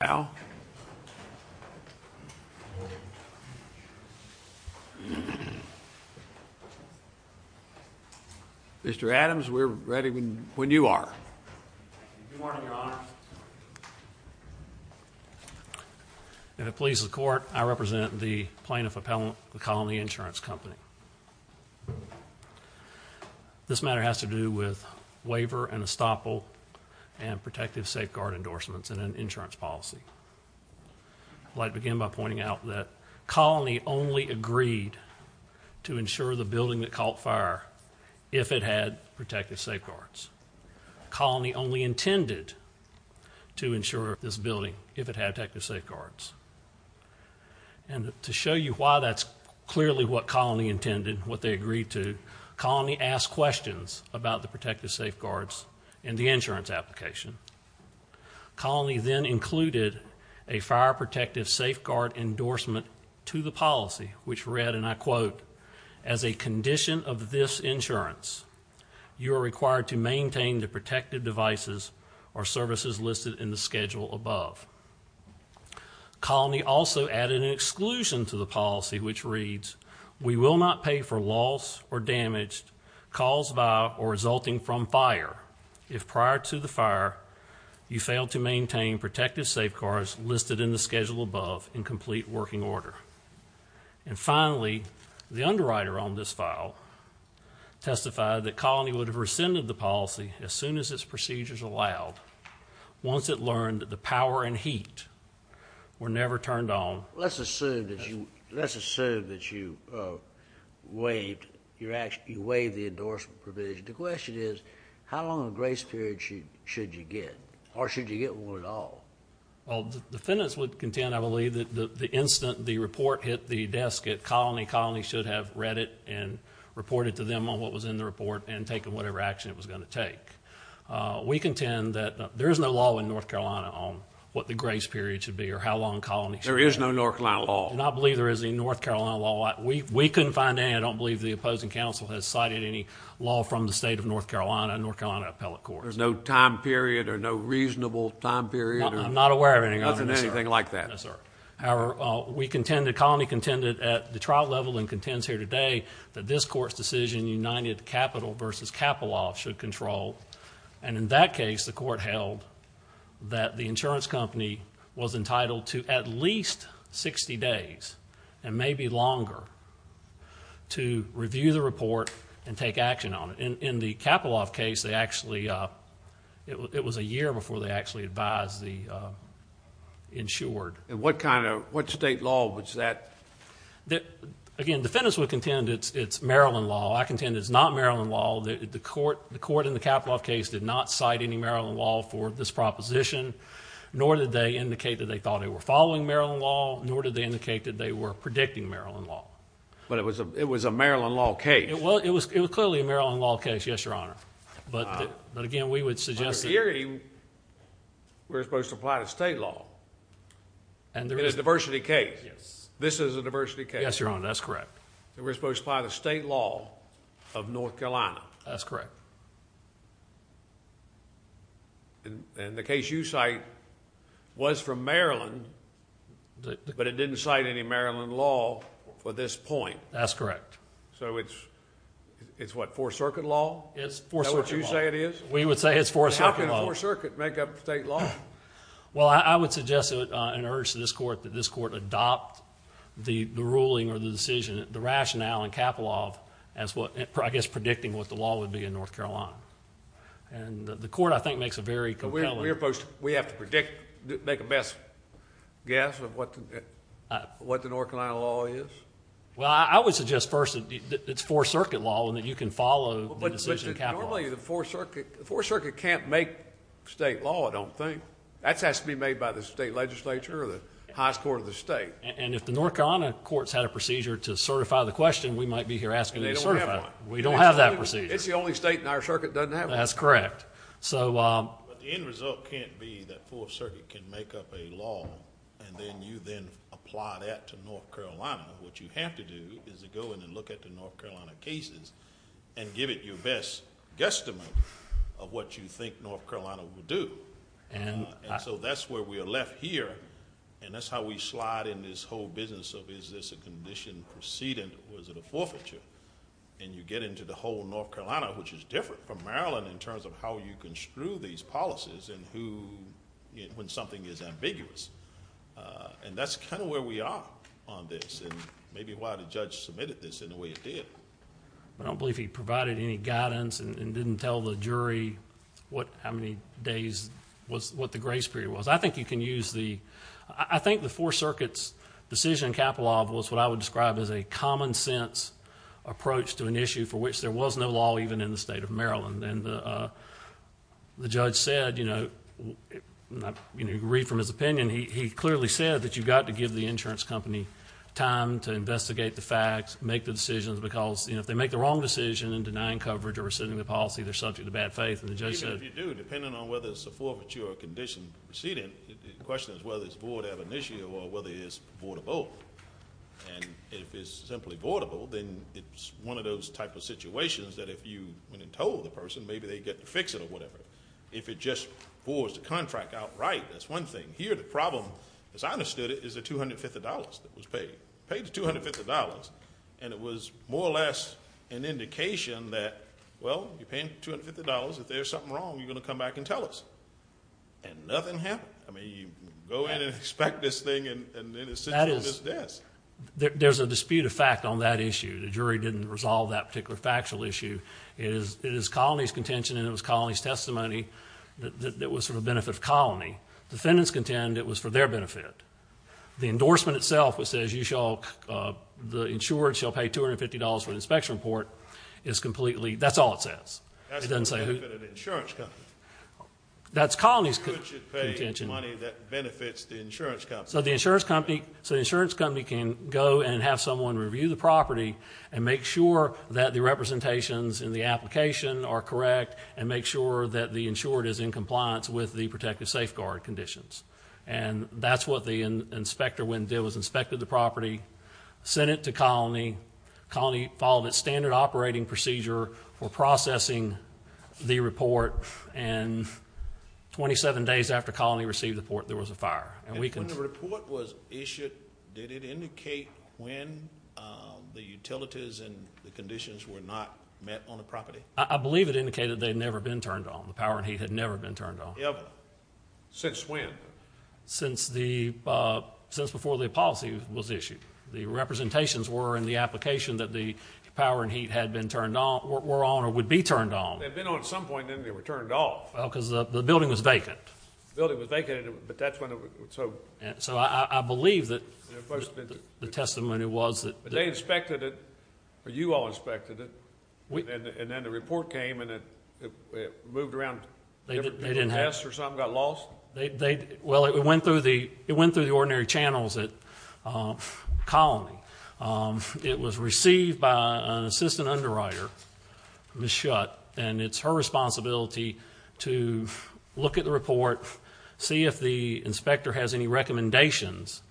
Now, Mr. Adams, we're ready when when you are. If it pleases the court, I represent the plaintiff appellant, the colony insurance company. This matter has to do with waiver and estoppel and protective safeguard endorsements and an insurance policy. I'd like to begin by pointing out that Colony only agreed to insure the building that caught fire if it had protective safeguards. Colony only intended to insure this building if it had protective safeguards. And to show you why that's clearly what Colony intended, what they agreed to, Colony asked questions about the protective safeguards and the insurance application. Colony then included a fire protective safeguard endorsement to the policy, which read, and I quote, as a condition of this insurance, you're required to maintain the protective devices or services listed in the schedule above. Colony also added an exclusion to the policy, which reads, We will not pay for the fire. You failed to maintain protective safeguards listed in the schedule above in complete working order. And finally, the underwriter on this file testified that Colony would have rescinded the policy as soon as its procedures allowed once it learned that the power and heat were never turned on. Let's assume that you let's assume that you waived your actually waived the endorsement provision. The question is, how long a grace period should you get, or should you get one at all? Well, the defendants would contend, I believe, that the instant the report hit the desk at Colony, Colony should have read it and reported to them on what was in the report and taken whatever action it was going to take. We contend that there is no law in North Carolina on what the grace period should be or how long Colony should have. There is no North Carolina law. And I believe there is a North Carolina law. We couldn't find any. I don't believe the opposing counsel has cited any law from the state of North Carolina and North Carolina appellate courts. There's no time period or no reasonable time period. I'm not aware of anything like that. No, sir. However, we contend that Colony contended at the trial level and contends here today that this court's decision, United Capital versus Kapolov should control. And in that case, the court held that the insurance company was entitled to at least 60 days and maybe longer to review the report and take action on it. And in the Kapolov case, they actually, uh, it was a year before they actually advised the, uh, insured. And what kind of, what state law was that? That again, defendants would contend it's, it's Maryland law. I contend it's not Maryland law. The court, the court in the Kapolov case did not cite any Maryland law for this proposition, nor did they indicate that they thought they were following Maryland law, nor did they indicate that they were predicting Maryland law, but it was a, it was a Maryland law case. Well, it was, it was clearly a Maryland law case. Yes, Your Honor. But, but again, we would suggest that we're supposed to apply to state law and there is diversity case. Yes. This is a diversity case. Yes, Your Honor. That we're supposed to apply the state law of North Carolina. That's correct. And, and the case you cite was from Maryland, but it didn't cite any Maryland law for this point. That's correct. So it's, it's what? Four circuit law? It's four circuit law. Is that what you say it is? We would say it's four circuit law. How can a four circuit make up state law? Well, I would suggest it, uh, an urge to this court that this court adopt the, the ruling or the decision, the rationale in Kapolov as what, I guess, predicting what the law would be in North Carolina. And the court, I think, makes a very compelling, we're supposed to, we have to predict, make a best guess of what, what the North Carolina law is. Well, I would suggest first that it's four circuit law and that you can follow the decision of Kapolov. Normally the four circuit, four circuit can't make state law, I don't think. That has to be made by the state legislature or the highest court of the state. And if the North Carolina court's had a procedure to certify the question, we might be here asking them to certify it. We don't have that procedure. It's the only state in our circuit that doesn't have one. That's correct. So, um, but the end result can't be that four circuit can make up a law and then you then apply that to North Carolina. What you have to do is to go in and look at the North Carolina cases and give it your best guesstimate of what you think North Carolina will do. And so that's where we are left here. And that's how we slide in this whole business of, is this a condition proceeding or is it a forfeiture? And you get into the whole North Carolina, which is different from Maryland in terms of how you construe these policies and who, when something is ambiguous, uh, and that's kind of where we are on this and maybe why the judge submitted this in a way it did. I don't believe he provided any guidance and didn't tell the jury what, how many days was what the grace period was. I think you can use the, I think the four circuits decision capital of was what I would describe as a common sense approach to an issue for which there was no law even in the state of Maryland. And the, uh, the judge said, you know, not, you know, read from his opinion. He clearly said that you've got to give the insurance company time to investigate the facts, make the decisions because if they make the wrong decision in denying coverage or rescinding the policy, they're subject to bad faith. And the judge said, If you do, depending on whether it's a forfeiture or condition proceeding, the question is whether it's void ab initio or whether it's void of both. And if it's simply voidable, then it's one of those types of situations that if you went and told the person, maybe they'd get to fix it or whatever. If it just boards, the contract outright, that's one thing here. The problem is I understood it is the $250 that was paid, paid the $250. And it was more or less an indication that, well, you're paying $250. If there's something wrong, you're going to come back and tell us. And nothing happened. I mean, you go in and expect this thing. And that is, there's a dispute of fact on that issue. The jury didn't resolve that particular factual issue. It is, it is colony's contention and it was colony's testimony that it was for the benefit of colony. Defendants contend it was for their benefit. The endorsement itself, which says you shall, the insured shall pay $250 for the inspection report is completely, that's all it says. That's the benefit of the insurance company. That's colony's contention. Which should pay money that benefits the insurance company. So the insurance company, so the insurance company can go and have someone review the property and make sure that the representations in the application are correct and make sure that the insured is in compliance with the protective safeguard conditions. And that's what the inspector went and did was inspected the property, sent it to colony. Colony followed its standard operating procedure for processing the report. And 27 days after colony received the report, there was a fire. And when the report was issued, did it indicate when the utilities and the conditions were not met on the property? I believe it indicated they'd never been turned on the power and heat had never been turned on. Since when? Since the, uh, since before the policy was issued, the representations were in the application that the power and heat had been turned on, were on, or would be turned on. They'd been on at some point and then they were turned off. Well, cause the building was vacant. The building was vacant, but that's when it was. So. So I believe that the testimony was that they inspected it or you all inspected it. And then the report came and it moved around. They didn't have tests or something got lost. They, they, well, it went through the, it went through the ordinary channels at, um, colony. Um, it was received by an assistant underwriter, Ms. Shutt. And it's her responsibility to look at the report, see if the inspector has any recommendations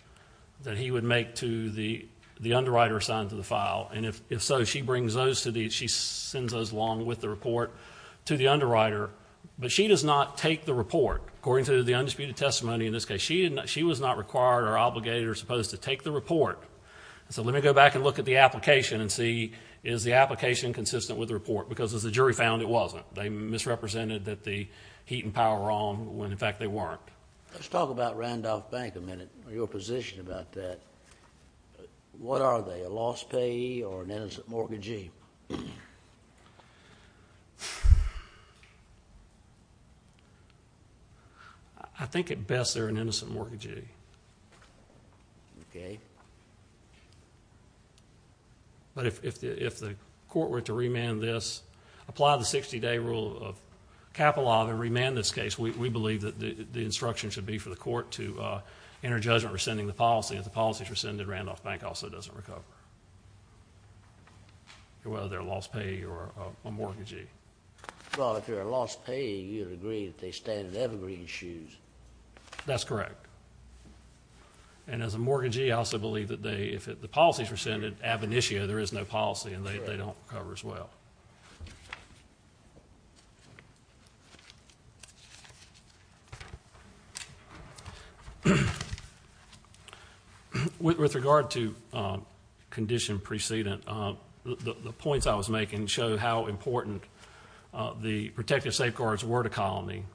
that he would make to the, the underwriter assigned to the file. And if, if so, she brings those to the, she sends us along with the report to the underwriter, but she does not take the report according to the undisputed testimony. In this case, she didn't, she was not required or obligated or supposed to take the report. So let me go back and look at the application and see, is the application consistent with the report? Because as the jury found it wasn't, they misrepresented that the heat and power wrong when in fact they weren't. Let's talk about Randolph bank a minute or your position about that. What are they a lost pay or an innocent mortgagee? I think at best they're an innocent mortgagee. Okay. Okay. But if, if the, if the court were to remand this, apply the 60 day rule of capital law to remand this case, we believe that the instruction should be for the court to, uh, enter judgment rescinding the policy. If the policies rescinded Randolph bank also doesn't recover. Well, they're lost pay or a mortgagee. Well, if you're a lost pay, you'd agree that they stand in evergreen shoes. That's correct. And as a mortgagee, I also believe that they, if the policies rescinded ab initio, there is no policy and they don't cover as well. With regard to, um, condition precedent, uh, the points I was making show how important, uh, the protective safeguards were to colony.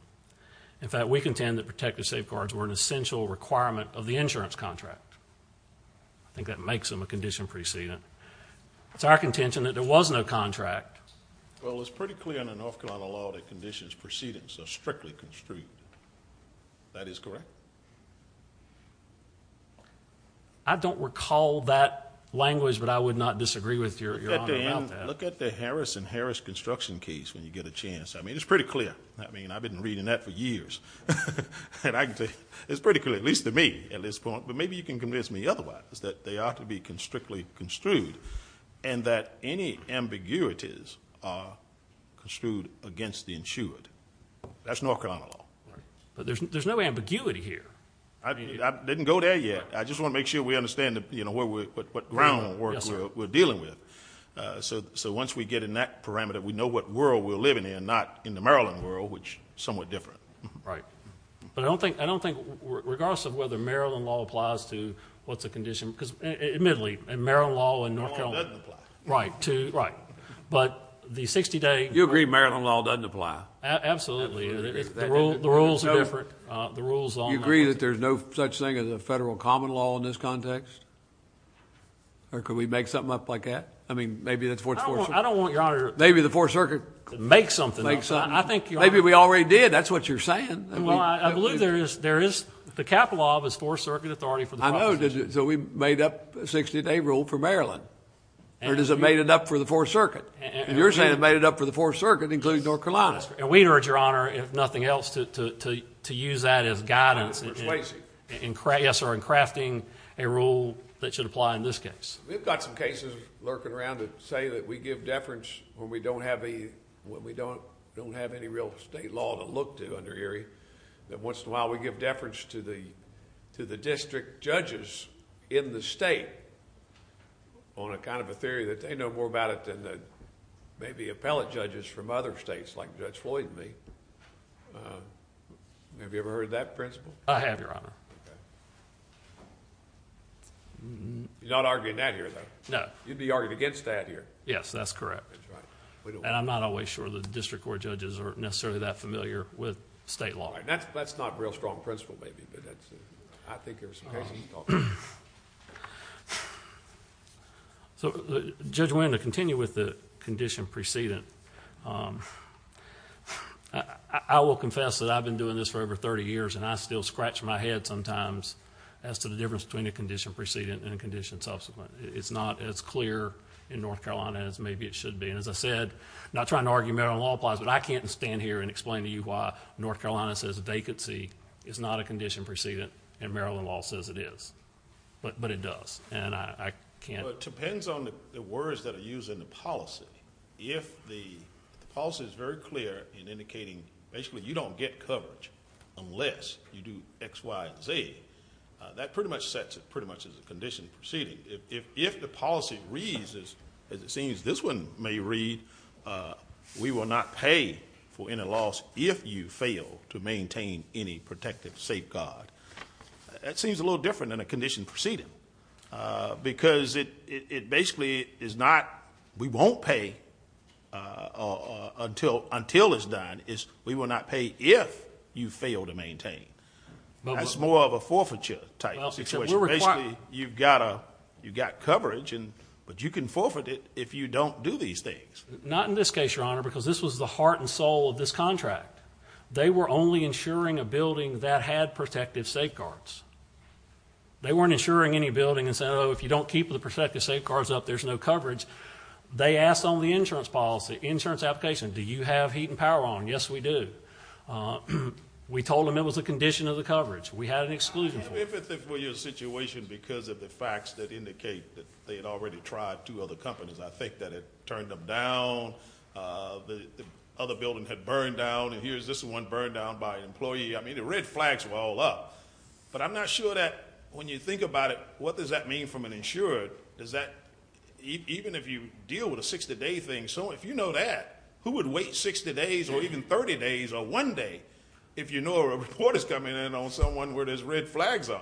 In fact, we contend that protective safeguards were an essential requirement of the law that makes them a condition precedent. It's our contention that there was no contract. Well, it's pretty clear in the North Carolina law that conditions proceedings are strictly construed. That is correct. I don't recall that language, but I would not disagree with your, your honor about that. Look at the Harris and Harris construction case. When you get a chance, I mean, it's pretty clear. I mean, I've been reading that for years. And I can tell you it's pretty clear, at least to me at this point, but maybe you can convince me otherwise that they ought to be constrictly construed and that any ambiguities are construed against the insured. That's North Carolina law. But there's, there's no ambiguity here. I didn't go there yet. I just want to make sure we understand that, you know, what we're, what groundwork we're dealing with. Uh, so, so once we get in that parameter, we know what world we're living in and not in the Maryland world, which somewhat different. Right. But I don't think, I don't think regardless of whether Maryland law applies to what's the condition, because admittedly and Maryland law in North Carolina, right. To right. But the 60 day, you agree, Maryland law doesn't apply. Absolutely. The rules are different. Uh, the rules on, you agree that there's no such thing as a federal common law in this context, or could we make something up like that? I mean, maybe that's what, I don't want your honor. Maybe the fourth circuit makes something. I think maybe we already did. That's what you're saying. Well, I believe there is, there is the capital law of his fourth circuit authority for the project. So we made up a 60 day rule for Maryland or does it made it up for the fourth circuit? And you're saying it made it up for the fourth circuit, including North Carolina. And we urge your honor, if nothing else, to, to, to, to use that as guidance. And yes, or in crafting a rule that should apply in this case. We've got some cases lurking around to say that we give deference when we don't have a, when we don't, don't have any real state law to look to under Erie. That once in a while we give deference to the, to the district judges in the state on a kind of a theory that they know more about it than that. Maybe appellate judges from other states like judge Floyd and me. Have you ever heard that principle? I have your honor. You're not arguing that here though. No, you'd be argued against that here. Yes, that's correct. And I'm not always sure the district court judges aren't necessarily that right. That's, that's not real strong principle, maybe, but that's I think there's some cases. So judge, we're going to continue with the condition precedent. I will confess that I've been doing this for over 30 years and I still scratch my head sometimes as to the difference between the condition precedent and condition subsequent. It's not as clear in North Carolina as maybe it should be. And as I said, not trying to argue metal law applies, but I can't stand here and explain to you why North Carolina says vacancy is not a condition precedent and Maryland law says it is, but, but it does. And I can't. Well it depends on the words that are used in the policy. If the policy is very clear in indicating basically you don't get coverage unless you do X, Y, Z that pretty much sets it pretty much as a condition proceeding. If, if, if the policy reads as, as it seems this one may read, we will not pay for any loss if you fail to maintain any protective safeguard. That seems a little different than a condition proceeding because it, it basically is not, we won't pay until, until it's done is we will not pay if you fail to maintain. That's more of a forfeiture type situation. Basically, you've got a, you've got coverage and, but you can forfeit it if you don't do these things. Not in this case, Your Honor, because this was the heart and soul of this contract. They were only insuring a building that had protective safeguards. They weren't insuring any building and said, Oh, if you don't keep the protective safeguards up, there's no coverage. They asked on the insurance policy, insurance application, do you have heat and power on? Yes, we do. Uh, we told them it was a condition of the coverage. We had an exclusion. If it were your situation because of the facts that indicate that they had already tried two other companies. I think that it turned them down. Uh, the other building had burned down and here's this one burned down by an employee. I mean, the red flags were all up, but I'm not sure that when you think about it, what does that mean from an insurer? Does that, even if you deal with a 60 day thing, so if you know that who would wait 60 days or even 30 days or one day, if you know a report is coming in on someone where there's red flags on.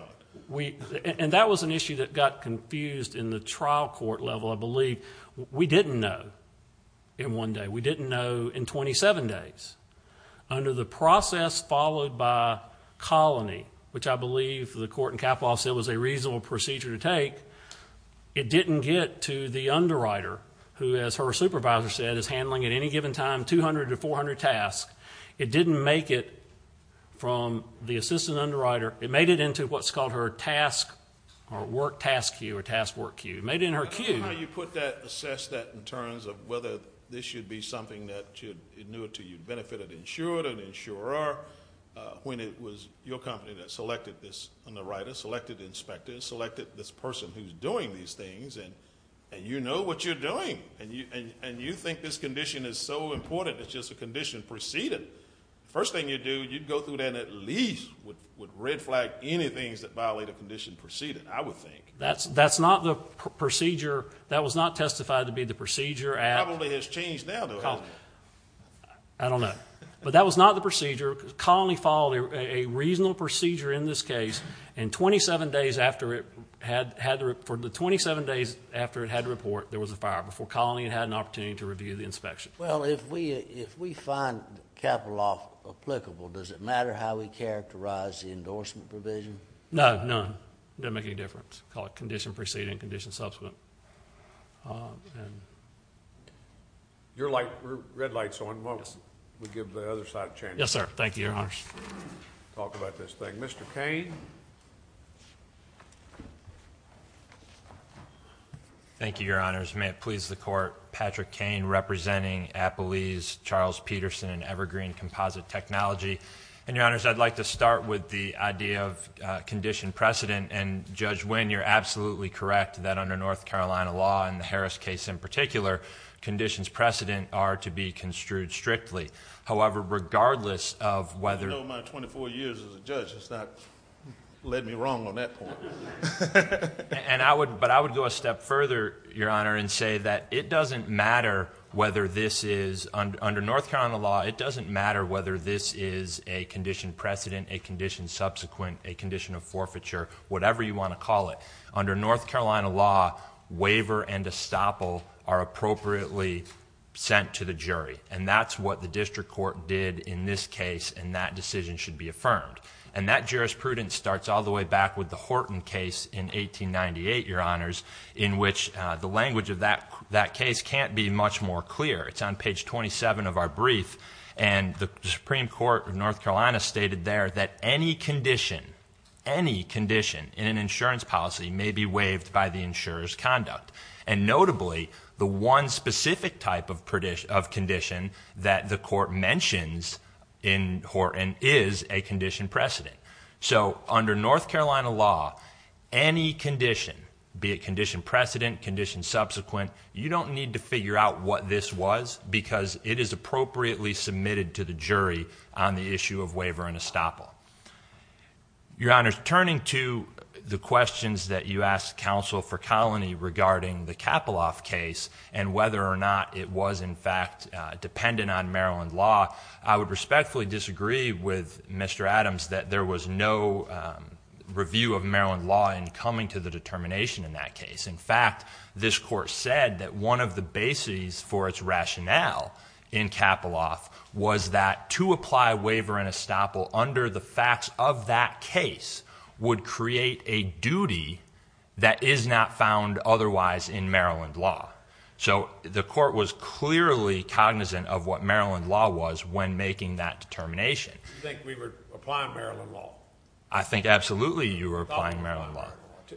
We, and that was an issue that got confused in the trial court level. I believe we didn't know in one day, we didn't know in 27 days under the process followed by colony, which I believe the court and capital office said was a reasonable procedure to take. It didn't get to the underwriter who has, her supervisor said is handling at any given time, 200 to 400 tasks. It didn't make it from the assistant underwriter. It made it into what's called her task or work task you or task work you made in her queue. You put that assess that in terms of whether this should be something that should, it knew it to you benefited insured and insurer, uh, when it was your company that selected this on the writer, selected inspectors, selected this person who's doing these things and, and you know what you're doing and you, and you think this condition is so important. It's just a condition preceded. First thing you do, you'd go through then at least with red flag, any things that violate a condition proceeded, I would think that's, that's not the procedure that was not testified to be the procedure. And probably has changed now though. I don't know, but that was not the procedure. Colony followed a reasonable procedure in this case and 27 days after it had had the, for the 27 days after it had to report, there was a fire before colony and had an opportunity to review the inspection. Well, if we, if we find capital off applicable, does it matter how we characterize the endorsement provision? No, none. Don't make any difference. Call it condition proceeding condition subsequent. Um, and you're like red lights on what we give the other side of the chain. Yes, sir. Thank you. Your honors. Talk about this thing. Mr. Kane. Thank you. Your honors. May it please the court. Patrick Kane representing Applebee's Charles Peterson and evergreen composite technology. And your honors, I'd like to start with the idea of a condition precedent and judge when you're absolutely correct that under North Carolina law and the Harris case in particular conditions precedent are to be construed strictly. However, regardless of whether 24 years as a judge, it's not led me wrong on that point. And I would, but I would go a step further, your honor, and say that it doesn't matter whether this is under North Carolina law. It doesn't matter whether this is a condition precedent, a condition subsequent, a condition of forfeiture, whatever you want to call it under North Carolina law, waiver and estoppel are appropriately sent to the jury. And that's what the district court did in this case. And that decision should be affirmed. And that jurisprudence starts all the way back with the Horton case in 1898, your honors, in which the language of that, that case can't be much more clear. It's on page 27 of our brief and the Supreme court of North Carolina stated there that any condition, any condition in an insurance policy may be waived by the insurer's conduct. And notably the one specific type of prediction of condition that the court mentions in Horton is a condition precedent. So under North Carolina law, any condition, be it condition precedent, condition subsequent, you don't need to figure out what this was because it is appropriately submitted to the jury on the issue of waiver and estoppel. Your honor's turning to the questions that you asked counsel for colony regarding the capital off case and whether or not it was in fact dependent on Maryland law. I would respectfully disagree with Mr. Adams that there was no review of Maryland law in coming to the determination in that case. In fact, this court said that one of the bases for its rationale in capital off was that to apply waiver and estoppel under the facts of that case would create a duty that is not found otherwise in Maryland law. So the court was clearly cognizant of what Maryland law was when making that determination. You think we were applying Maryland law? I think absolutely. You were applying Maryland law,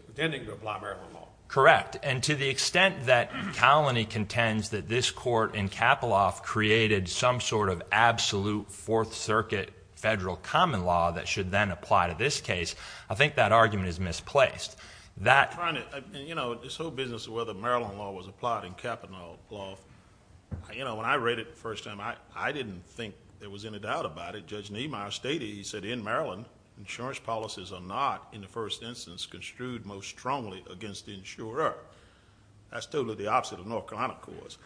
intending to apply Maryland law. Correct. And to the extent that colony contends that this court in capital off created some sort of absolute fourth circuit federal common law that should then apply to this case. I think that argument is misplaced that, you know, this whole business of whether Maryland law was applied in capital law. You know, when I read it the first time, I, I didn't think there was any doubt about it. Judge Nehemiah stated, he said in Maryland insurance policies are not in the first instance construed most strongly against the insurer. That's totally the opposite of North Carolina cause.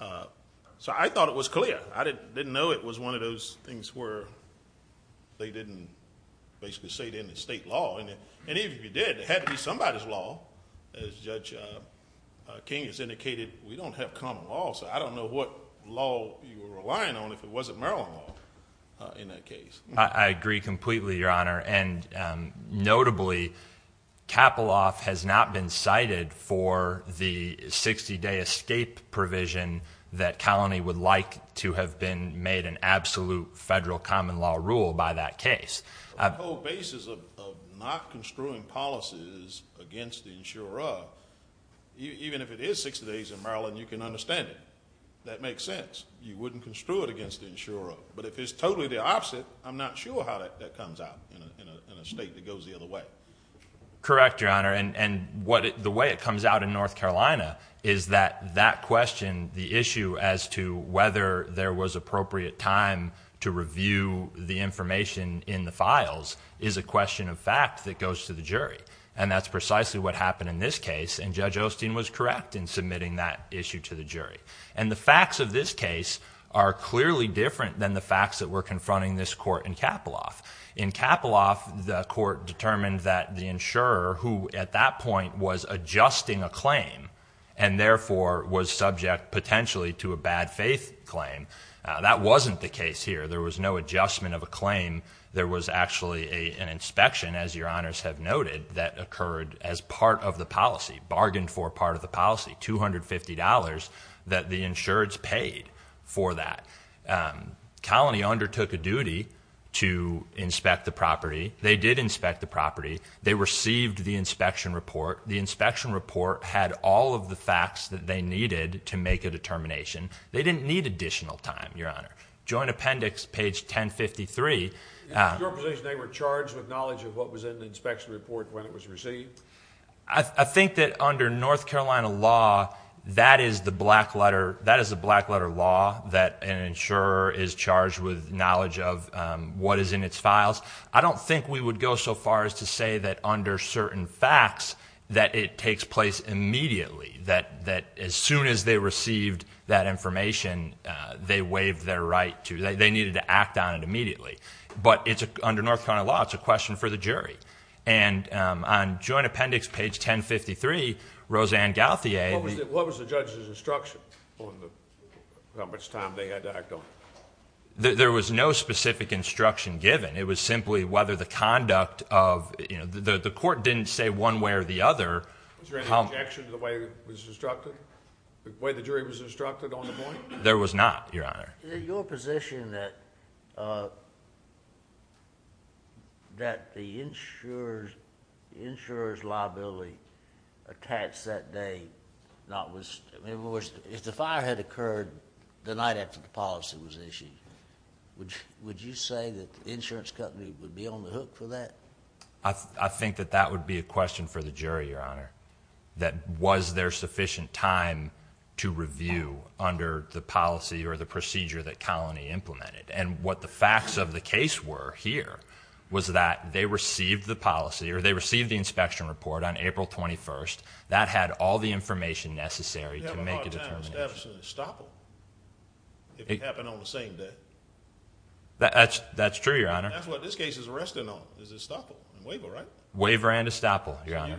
Uh, so I thought it was clear. I didn't know it was one of those things where they didn't basically say it in the state law. And then, and even if you did, it had to be somebody's law as judge King has indicated. We don't have common law, so I don't know what law you were relying on if it wasn't Maryland law in that case. I agree completely, your honor. And, um, notably capital off has not been cited for the 60 day escape provision that colony would like to have been made an absolute federal common law rule by that case. I have a whole basis of, of not construing policies against the insurer. Even if it is 60 days in Maryland, you can understand it. That makes sense. You wouldn't construe it against the insurer, but if it's totally the opposite, I'm not sure how that comes out in a state that goes the other way. Correct. Your honor. And what the way it comes out in North Carolina is that that question, the issue as to whether there was appropriate time to review the information in the files is a question of fact that goes to the jury. And that's precisely what happened in this case. And judge Osteen was correct in submitting that issue to the jury. And the facts of this case are clearly different than the facts that we're confronting this court in capital off. In capital off the court determined that the insurer who at that point was adjusting a claim and therefore was subject potentially to a bad faith claim. Uh, that wasn't the case here. There was no adjustment of a claim. There was actually a, an inspection as your honors have noted that occurred as part of the policy bargained for part of the policy, $250 that the insureds paid for that. Um, colony undertook a duty to inspect the property. They did inspect the property. They received the inspection report. The inspection report had all of the facts that they needed to make a determination. They didn't need additional time. Your honor, joint appendix, page 10 53. They were charged with knowledge of what was in the inspection report when it was received. I think that under North Carolina law, that is the black letter. That is a black letter law that an insurer is charged with knowledge of, um, what is in its files. I don't think we would go so far as to say that under certain facts that it takes place immediately, that, that as soon as they received that information, uh, they waived their right to, but it's under North Carolina law. It's a question for the jury. And, um, on joint appendix, page 10 53, Roseanne Gauthier, what was the judge's instruction on the, how much time they had to act on? There was no specific instruction given. It was simply whether the conduct of the court didn't say one way or the other. Was there any objection to the way it was instructed, the way the jury was instructed on the point? There was not your honor, your position that, uh, uh, that the insurers insurers liability attached that day, not with, if the fire had occurred the night after the policy was issued, which would you say that the insurance company would be on the hook for that? I think that that would be a question for the jury, your honor, that was there sufficient time to review under the policy or the procedure that colony implemented. And what the facts of the case were here was that they received the policy or they received the inspection report on April 21st that had all the information necessary to make it a stop. It happened on the same day. That's, that's true. Your honor. That's what this case is resting on is a stop waiver, right? Waiver and estoppel. Your honor.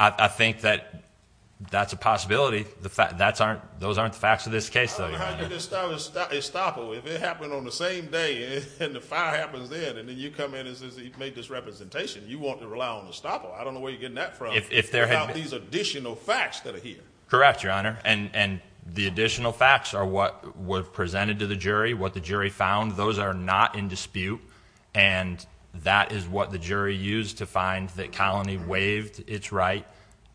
I think that that's a possibility. The fact that's aren't, those aren't the facts of this case. So how do you just start a stopper? If it happened on the same day and the fire happens then, and then you come in and says, he made this representation. You want to rely on the stopper. I don't know where you're getting that from. If there have these additional facts that are here. Correct. Your honor. And, and the additional facts are what were presented to the jury, what the jury found. Those are not in dispute. And that is what the jury used to find that colony waived its right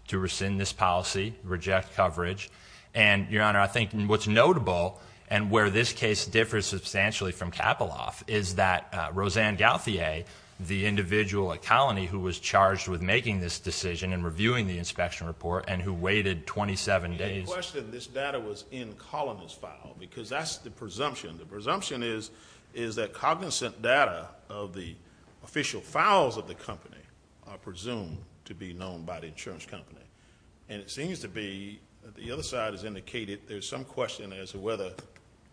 to rescind this policy, reject coverage. And your honor, I think what's notable and where this case differs substantially from Kapoloff is that, uh, Roseanne Gauthier, the individual, a colony who was charged with making this decision and reviewing the inspection report and who waited 27 days. This data was in columnist file because that's the presumption. The presumption is, is that cognizant data of the official files of the company are presumed to be known by the insurance company. And it seems to be the other side has indicated, there's some question as to whether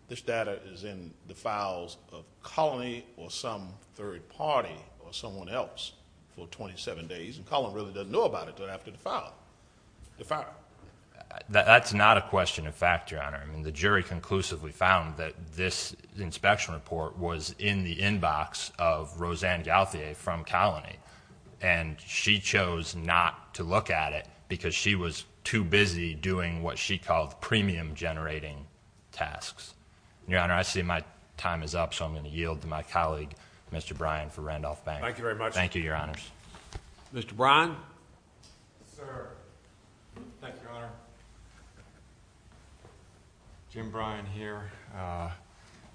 this data is in the files of colony or some third party or someone else for 27 days. And Colin really doesn't know about it. Don't have to defile the fact that that's not a question of factor on her. I mean, the jury conclusively found that this inspection report was in the inbox of Roseanne Gauthier from colony. And she chose not to look at it because she was too busy doing what she called premium generating tasks. Your Honor, I see my time is up. So I'm going to yield to my colleague, Mr. Brian for Randolph bank. Thank you very much. Thank you. Your honors. Mr. Brian. Sir. Thank you, Your Honor. Jim Brian here, uh,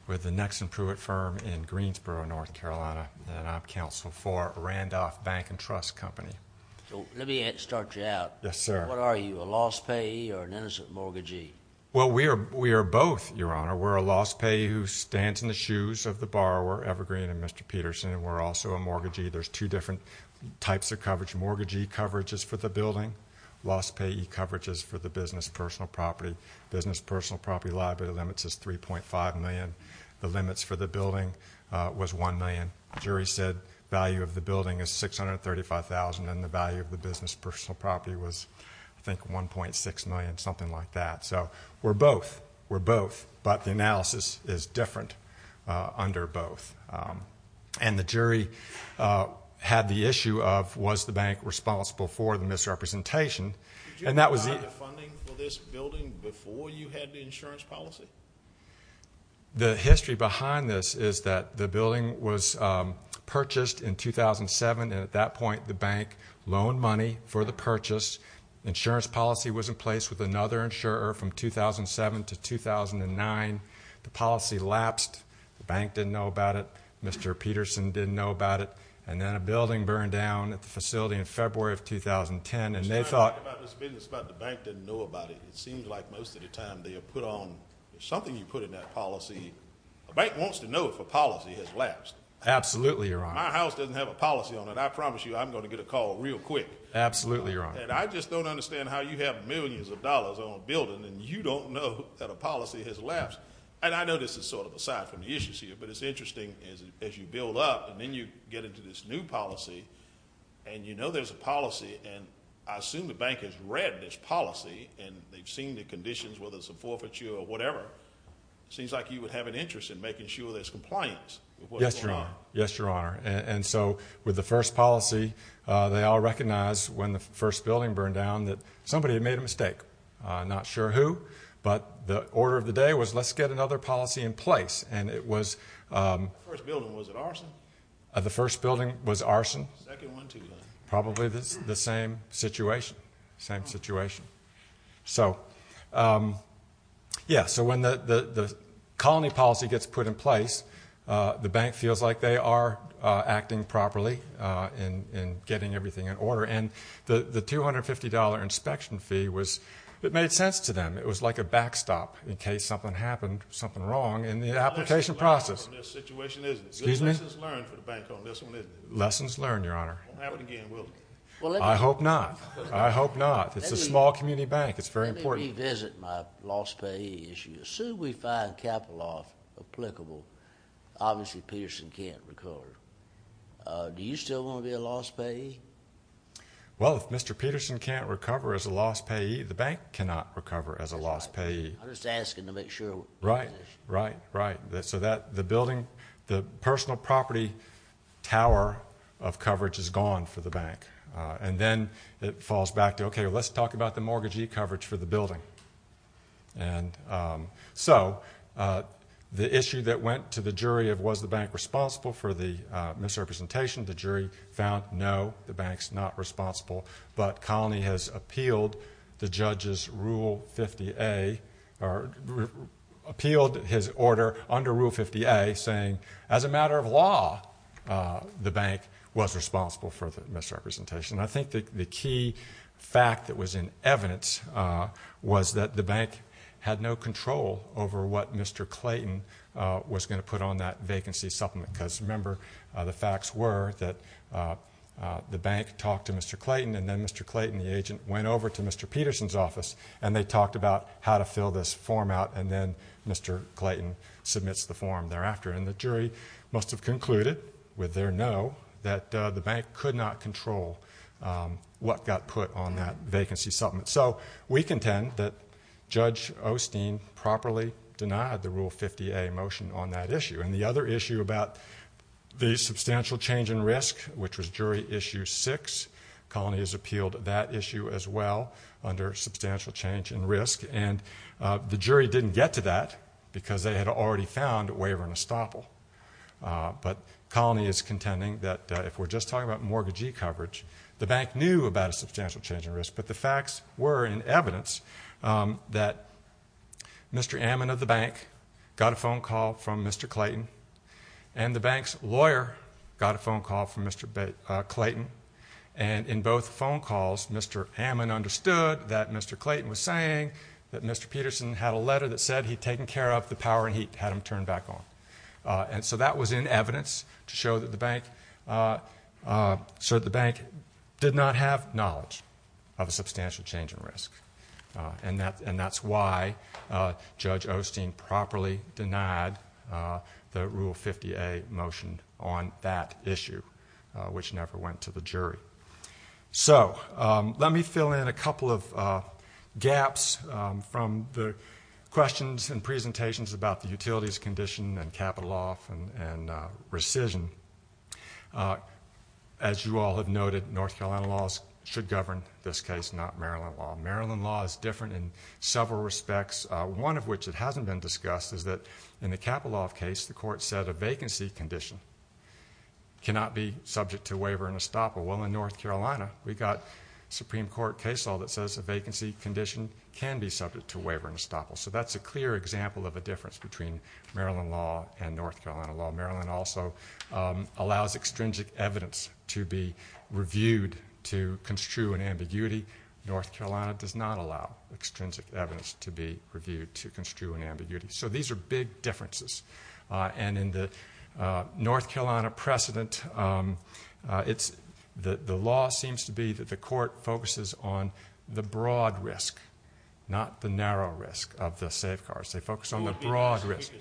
with the next and prove it firm in Greensboro, North Carolina. And I'm counsel for Randolph bank and trust company. So let me start you out. Yes, sir. What are you? A loss payee or an innocent mortgagee? Well, we are, we are both, Your Honor. We're a loss payee who stands in the shoes of the borrower evergreen and Mr. Peterson. And we're also a mortgagee. There's two different types of coverage. Mortgagee coverage is for the building loss payee coverages for the business, personal property, business, personal property, liability limits is 3.5 million. The limits for the building was 1 million. Jury said value of the building is 635,000. And the value of the business personal property was I think 1.6 million, something like that. So we're both, we're both, but the analysis is different, uh, under both. Um, and the jury, uh, had the issue of, was the bank responsible for the misrepresentation? And that was the funding for this building before you had the insurance policy. The history behind this is that the building was, um, purchased in 2007. And at that point, the bank loan money for the purchase insurance policy was in place with another insurer from 2007 to 2009. The policy lapsed. The bank didn't know about it. Mr. Peterson didn't know about it. And then a building burned down at the facility in February of 2010. And they thought about this business, but the bank didn't know about it. It seems like most of the time they are put on something you put in that policy. A bank wants to know if a policy has lapsed. Absolutely. My house doesn't have a policy on it. I promise you, I'm going to get a call real quick. Absolutely. You're on it. I just don't understand how you have millions of dollars on a building and you don't know that a policy has lapsed. And I know this is sort of aside from the issues here, but it's interesting as you build up and then you get into this new policy and you know, there's a policy. And I assume the bank has read this policy and they've seen the conditions, whether it's a forfeiture or whatever, it seems like you would have an interest in making sure there's compliance. Yes, Your Honor. And so with the first policy, they all recognize when the first building burned down that somebody had made a mistake. Not sure who, but the order of the day was, let's get another policy in place. And it was the first building was arson. Probably the same situation, same situation. So yeah, so when the colony policy gets put in place, the bank feels like they are acting properly in getting everything in order. And the $250 inspection fee was, it made sense to them. It was like a backstop in case something happened, something wrong in the application process. Lessons learned for the bank on this one, isn't it? Lessons learned, Your Honor. It won't happen again, will it? Well, I hope not. I hope not. It's a small community bank. It's very important. Let me revisit my lost pay issue. Assume we find capital loss applicable. Obviously, Peterson can't recover. Do you still want to be a lost payee? Well, if Mr. Peterson can't recover as a lost payee, the bank cannot recover as a lost payee. I'm just asking to make sure. Right, right, right. So that the building, the personal property tower of coverage is gone for the bank. And then it falls back to, okay, let's talk about the mortgagee coverage for the building. And so the issue that went to the jury of was the bank responsible for the misrepresentation, the jury found, no, the bank's not responsible. But Colony has appealed the judge's Rule 50A, or appealed his order under Rule 50A saying, as a matter of law, the bank was responsible for the misrepresentation. And I think that the key fact that was in evidence was that the bank had no control over what Mr. Clayton was going to put on that vacancy supplement. Because remember the facts were that the bank talked to Mr. Clayton and then Mr. Clayton, the agent went over to Mr. Peterson's office and they talked about how to fill this form out. And then Mr. Clayton submits the form thereafter. And the jury must've concluded with their no, that the bank could not control what got put on that vacancy supplement. So we contend that Judge Osteen properly denied the Rule 50A motion on that issue. And the other issue about the substantial change in risk, which was jury issue six, Colony has appealed that issue as well under substantial change in risk. And the jury didn't get to that because they had already found a waiver and a that if we're just talking about mortgagee coverage, the bank knew about a substantial change in risk, but the facts were in evidence that Mr. Ammon of the bank got a phone call from Mr. Clayton and the bank's lawyer got a phone call from Mr. Clayton. And in both phone calls, Mr. Ammon understood that Mr. Clayton was saying that Mr. Peterson had a letter that said he'd taken care of the power and heat, had him turned back on. And so that was in evidence to show that the bank, so the bank did not have knowledge of a substantial change in risk. And that's why Judge Osteen properly denied the Rule 50A motion on that issue, which never went to the jury. So let me fill in a couple of gaps from the questions and presentations about the capital law and rescission. As you all have noted, North Carolina laws should govern this case, not Maryland law. Maryland law is different in several respects, one of which it hasn't been discussed, is that in the capital law case, the court said a vacancy condition cannot be subject to waiver and estoppel. Well, in North Carolina, we got Supreme Court case law that says a vacancy condition can be subject to waiver and estoppel. So that's a clear example of a difference between Maryland law and North Carolina law. Maryland also allows extrinsic evidence to be reviewed to construe an ambiguity. North Carolina does not allow extrinsic evidence to be reviewed to construe an ambiguity. So these are big differences. And in the North Carolina precedent, it's the law seems to be that the court focuses on the broad risk, not the narrow risk of the safeguards. They focus on the broad risk.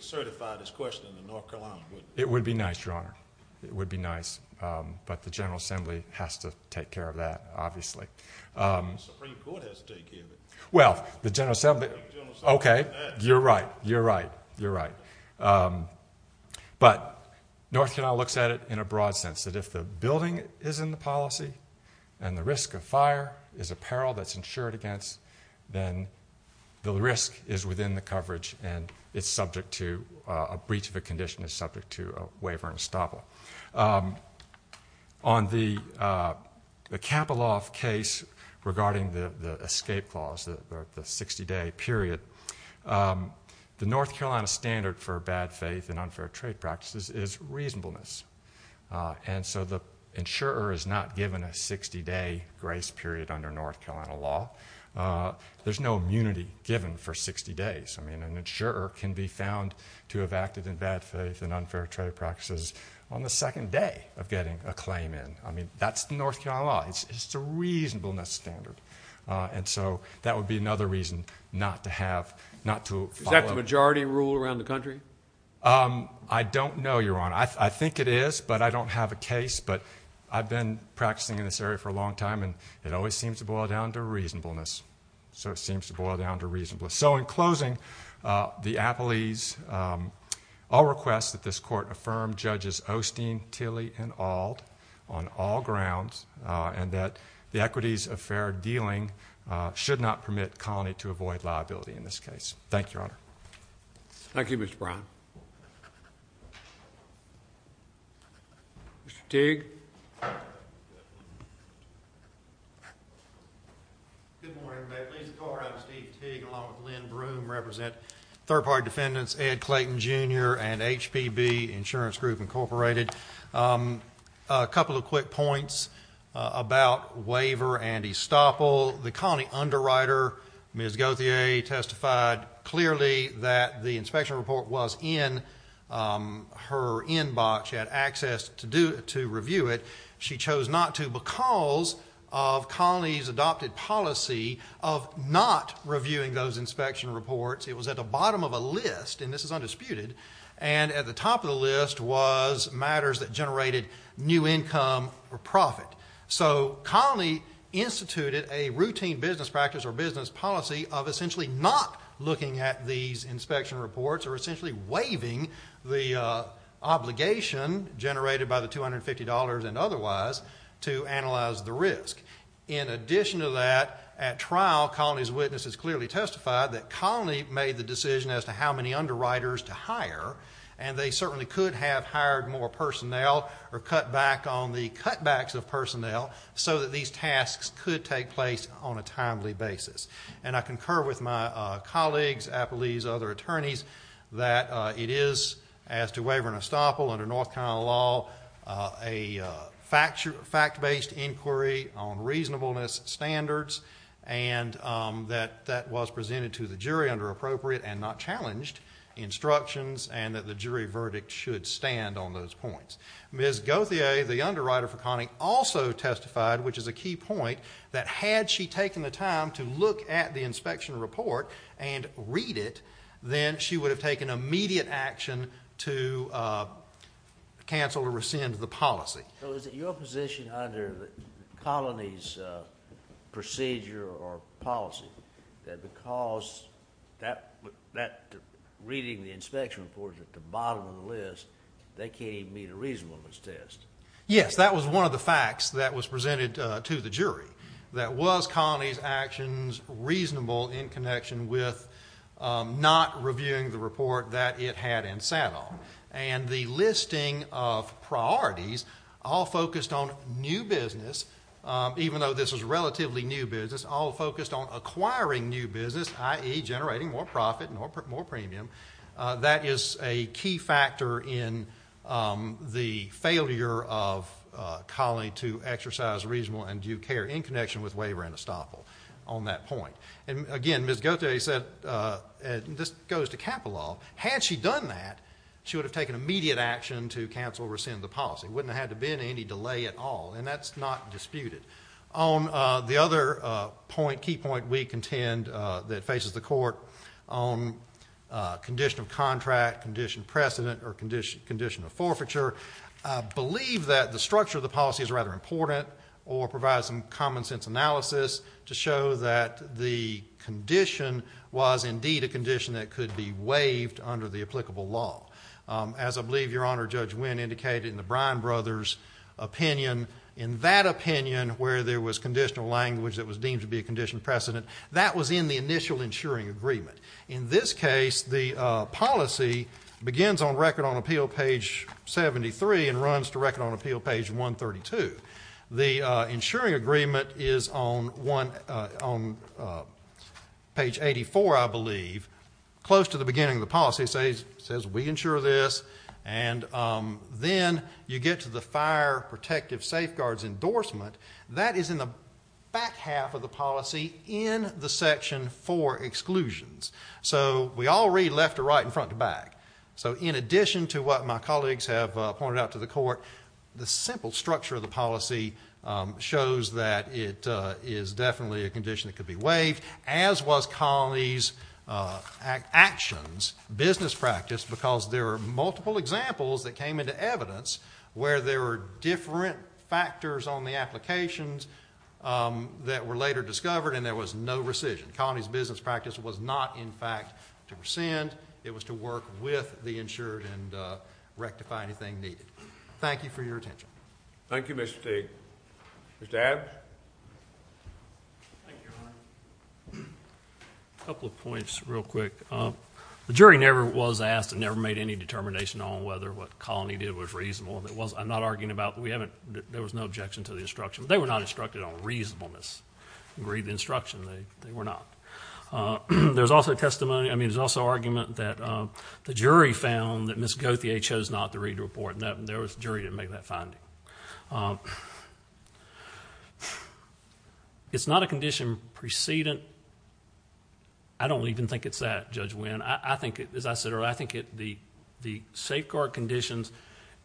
It would be nice, Your Honor. It would be nice. But the general assembly has to take care of that, obviously. Well, the general assembly. Okay. You're right. You're right. You're right. Um, but North Carolina looks at it in a broad sense that if the building is in the policy and the risk of fire is a peril that's insured against, then the risk is within the coverage and it's subject to a breach of a condition is subject to a waiver and estoppel. Um, on the, uh, the capital off case regarding the escape clause, the 60 day period, um, the North Carolina standard for bad faith and unfair trade practices is reasonableness. Uh, and so the insurer is not given a 60 day grace period under North Carolina law. Uh, there's no immunity given for 60 days. I mean, an insurer can be found to have acted in bad faith and unfair trade practices on the second day of getting a claim in. I mean, that's the North Carolina law. It's just a reasonableness standard. Uh, and so that would be another reason not to have, not to follow. Is that the majority rule around the country? Um, I don't know, Your Honor. but I don't have a case, but I've been practicing in this area for a long time and it always seems to boil down to reasonableness. So it seems to boil down to reasonableness. So in closing, uh, the Appleys, all requests that this court affirm judges Osteen, Tilly and Ald on all grounds, uh, and that the equities affair dealing, uh, should not permit colony to avoid liability in this case. Thank you, Your Honor. Thank you, Mr. Brown. Mr. Teague. Good morning, everybody. Lisa Carr, Steve Teague, along with Lynn Broom represent third party defendants, Ed Clayton Jr. and HPB Insurance Group Incorporated. Um, a couple of quick points about waiver. Andy Stoppel, the colony underwriter, Ms. Gauthier testified clearly that the inspection report was in, um, her inbox. She had access to do, to review it. She chose not to because of colonies adopted policy of not reviewing those inspection reports. It was at the bottom of a list, and this is undisputed. And at the top of the list was matters that generated new income or profit. So colony instituted a routine business practice or business policy of essentially not looking at these inspection reports or essentially waving the obligation generated by the $250 and otherwise to analyze the risk. In addition to that, at trial, colonies, witnesses clearly testified that colony made the decision as to how many underwriters to hire. And they certainly could have hired more personnel or cut back on the cutbacks of personnel so that these tasks could take place on a timely basis. And I concur with my colleagues, Applebee's, other attorneys, that, uh, it is as to waiver and estoppel under North Carolina law. A fact, your fact based inquiry on reasonableness standards and that that was presented to the jury under appropriate and not challenged instructions and that the jury verdict should stand on those points. Ms. Goatia, the underwriter for Connie also testified, which is a key point that had she taken the time to look at the inspection report and read it, then she would have taken immediate action to cancel or rescind the policy. So is it your position under the colonies procedure or policy that because that that reading the inspection report at the bottom of the list, they can't even meet a reasonableness test? Yes, that was one of the facts that was presented to the jury. That was Connie's actions reasonable in connection with not reviewing the report that it had and sat on and the listing of priorities all focused on new business. Even though this is relatively new business, all focused on acquiring new business, i.e. generating more profit and more premium. That is a key factor in the failure of calling to exercise reasonable and do care in connection with waiver and estoppel on that point. And again, Ms. Goatia said this goes to capital law. Had she done that, she would have taken immediate action to cancel or rescind the policy. Wouldn't have to be in any delay at all. And that's not disputed on the other point. Key point we contend that faces the court on condition of contract condition precedent or condition condition of forfeiture believe that the structure of the policy is rather important or provide some common sense analysis to show that the condition was indeed a condition that could be waived under the applicable law. Um, as I believe your honor, judge, when indicated in the Brian brothers opinion, in that opinion where there was conditional language that was deemed to be a condition precedent that was in the initial insuring agreement. In this case, the policy begins on record on appeal page 73 and runs to record on appeal page 132. The insuring agreement is on one on page 84. I believe close to the beginning of the policy says says we ensure this. And, um, then you get to the fire protective safeguards endorsement that is in the back half of the policy in the section for exclusions. So we all read left to right and front to back. So in addition to what my colleagues have pointed out to the court, the simple structure of the policy shows that it is definitely a condition that could be waived as was colonies. Uh, act actions, business practice, because there are multiple examples that came into evidence where there were different factors on the applications, um, that were later discovered. And there was no rescission colonies. Business practice was not, in fact, to rescind. It was to work with the insured and rectify anything needed. Thank you for your attention. Thank you, Mr. State. Mr. Points real quick. Uh, the jury never was asked and never made any determination on whether what colony did was reasonable. And it was, I'm not arguing about that. We haven't. There was no objection to the instruction. They were not instructed on reasonableness. Read the instruction. They were not. Uh, there's also testimony. I mean, there's also argument that, um, the jury found that Miss Gauthier chose not to read report that there was jury to make that finding. Um, it's not a condition precedent. And I don't even think it's that judge when I think it is, I said, or I think it, the, the safeguard conditions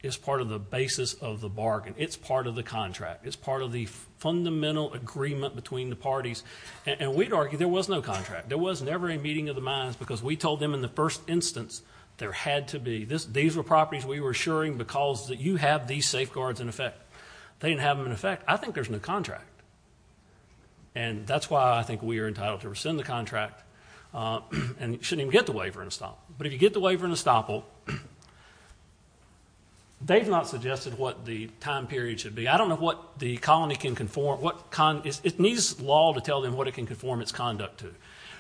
is part of the basis of the bargain. It's part of the contract. It's part of the fundamental agreement between the parties and we'd argue there was no contract. There was never a meeting of the minds because we told them in the first instance there had to be this. These were properties we were assuring because that you have these safeguards in effect. They didn't have them in effect. I think there's no contract. And that's why I think we are entitled to rescind the contract. Uh, and it shouldn't even get the waiver and a stop. But if you get the waiver and a stop, oh, they've not suggested what the time period should be. I don't know what the colony can conform. What kind is it? Needs law to tell them what it can conform its conduct to.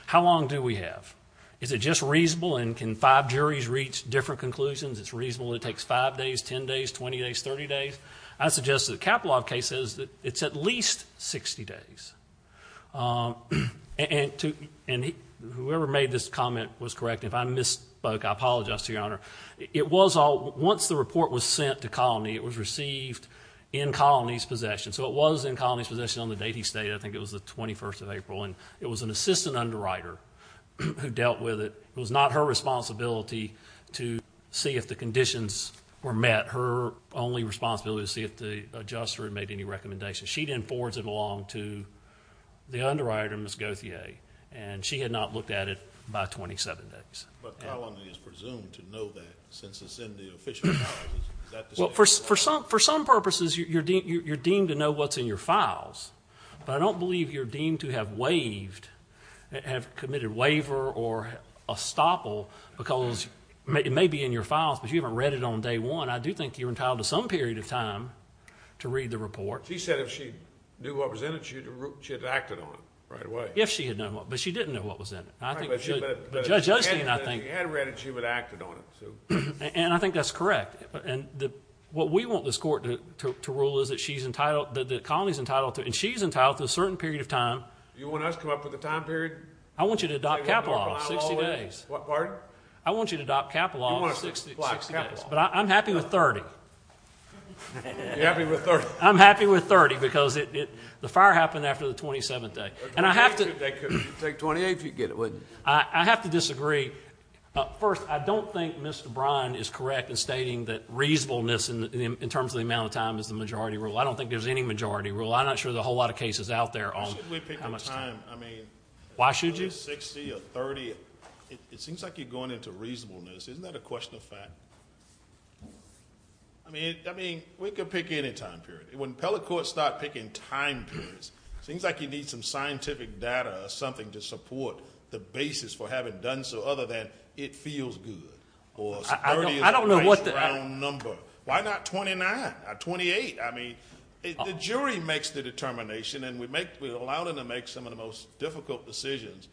How long do we have? Is it just reasonable? And can five juries reach different conclusions? It's reasonable. It takes five days, 10 days, 20 days, 30 days. I suggest the capital of cases that it's at least 60 days. Um, and to whoever made this comment was correct. If I misspoke, I apologize to your honor. It was all once the report was sent to colony, it was received in colonies possession. So it was in colonies possession on the day he stayed. I think it was the 21st of April, and it was an assistant underwriter who dealt with it. It was not her responsibility to see if the conditions were met. Her only responsibility to see if the adjuster had made any recommendation. She didn't forwards it along to the underwriter, Ms. Gauthier, and she had not looked at it by 27 days. But colony is presumed to know that since it's in the official. Well, for some, for some purposes, you're, you're, you're, you're deemed to know what's in your files, but I don't believe you're deemed to have waived, have committed waiver or a stopple because it may be in your files, but you haven't read it on day one. I do think you're entitled to some period of time to read the report. She said if she knew what was in it, she had acted on it right away. If she had known what, but she didn't know what was in it. I think the judge, I think you had read it. She would have acted on it. So, and I think that's correct. And what we want this court to rule is that she's entitled, that the colony is entitled to, and she's entitled to a certain period of time. You want us to come up with a time period? I want you to adopt capital off 60 days. I want you to adopt capital off 60 days, but I'm happy with 30. I'm happy with 30 because the fire happened after the 27th day. And I have to take 28. If you get it, would I have to disagree? First? I don't think Mr. Bryan is correct in stating that reasonableness in terms of the amount of time is the majority rule. I don't think there's any majority rule. I'm not sure. The whole lot of cases out there on time. I mean, why should you 60 or 30? It seems like you're going into reasonableness. Isn't that a question of fact? I mean, I mean, we can pick any time period when pellet courts start picking time periods, it seems like you need some scientific data or something to support the basis for having done. So other than it feels good or I don't know what the number, why not 29 or 28? I mean, the jury makes the determination and we make, we allow them to make some of the most difficult decisions.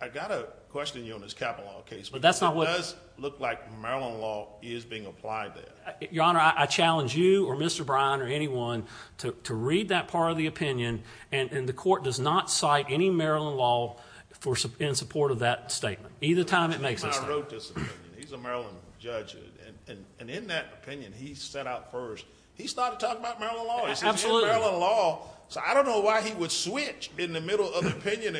I got a question on this capital law case, but that's not what does look like Maryland law is being applied there. Your honor. I challenge you or Mr. Bryan or anyone to read that part of the opinion. And the court does not cite any Maryland law for some in support of that statement. Either time it makes us wrote this opinion. He's a Maryland judge and in that opinion, he set out first, he started talking about Maryland law law. So I don't know why he would switch in the middle of the opinion.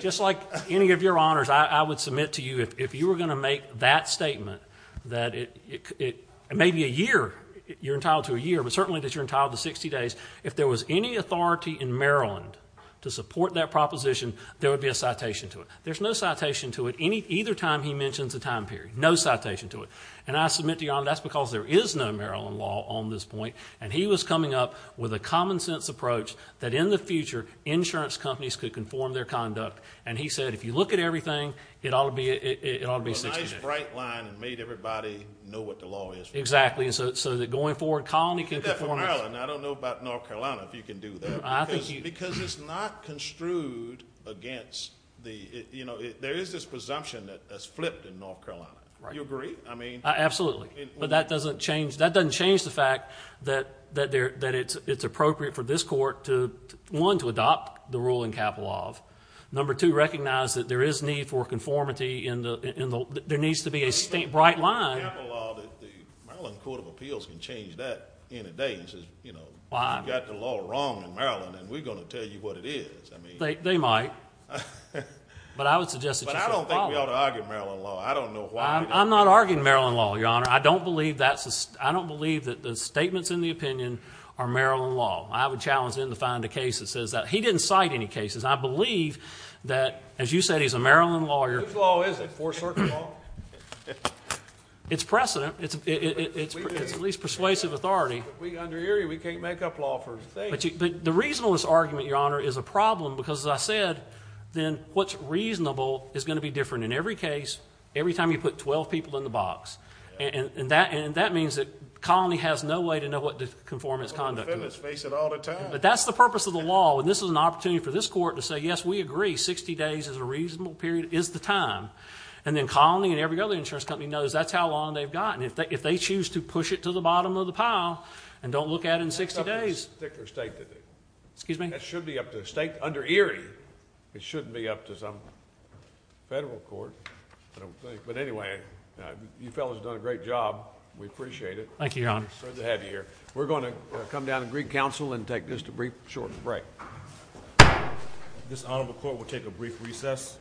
Just like any of your honors. I would submit to you if you were going to make that statement, that it may be a year you're entitled to a year, but certainly that you're entitled to 60 days. If there was any authority in Maryland to support that proposition, there would be a citation to it. There's no citation to it. Any either time he mentions a time period, no citation to it. And I submit to you on that's because there is no Maryland law on this point. And he was coming up with a common sense approach that in the future, insurance companies could conform their conduct. And he said, if you look at everything it ought to be, it ought to be a nice bright line and made everybody know what the law is. Exactly. And so, so that going forward, colony can come from Maryland. I don't know about North Carolina, if you can do that because it's not construed against the, you know, there is this presumption that has flipped in North Carolina. Right. You agree. I mean, absolutely. But that doesn't change. That doesn't change the fact that, that there, that it's, it's appropriate for this court to one, to adopt the ruling capital of number, to recognize that there is need for conformity in the, in the, there needs to be a state bright line. Maryland court of appeals can change that in a day. And he says, you know, why I got the law wrong in Maryland and we're going to tell you what it is. I mean, they might, but I would suggest that I don't think we ought to argue Maryland law. I don't know why I'm not arguing Maryland law. Your honor. I don't believe that's, I don't believe that the statements in the opinion are Maryland law. I would challenge him to find a case that says that he didn't cite any cases. I believe that as you said, he's a Maryland lawyer. It's precedent. It's it's at least persuasive authority. We can't make up law for the reasonless argument. Your honor is a problem because as I said, then what's reasonable is going to be different in every case. Every time you put 12 people in the box and that, and that means that colony has no way to know what the conformance conduct, but that's the purpose of the law. And this is an opportunity for this court to say, yes, we agree. 60 days is a reasonable period is the time. And then colony and every other insurance company knows that's how long they've gotten. If they, if they choose to push it to the bottom of the pile and don't look at it in 60 days, excuse me, that should be up to the state under Erie. It shouldn't be up to some federal court. I don't think, but anyway, you fellas have done a great job. We appreciate it. Thank you. Your honor. So to have you here, we're going to come down and greet council and take this to brief short break. Okay. This honorable court will take a brief recess.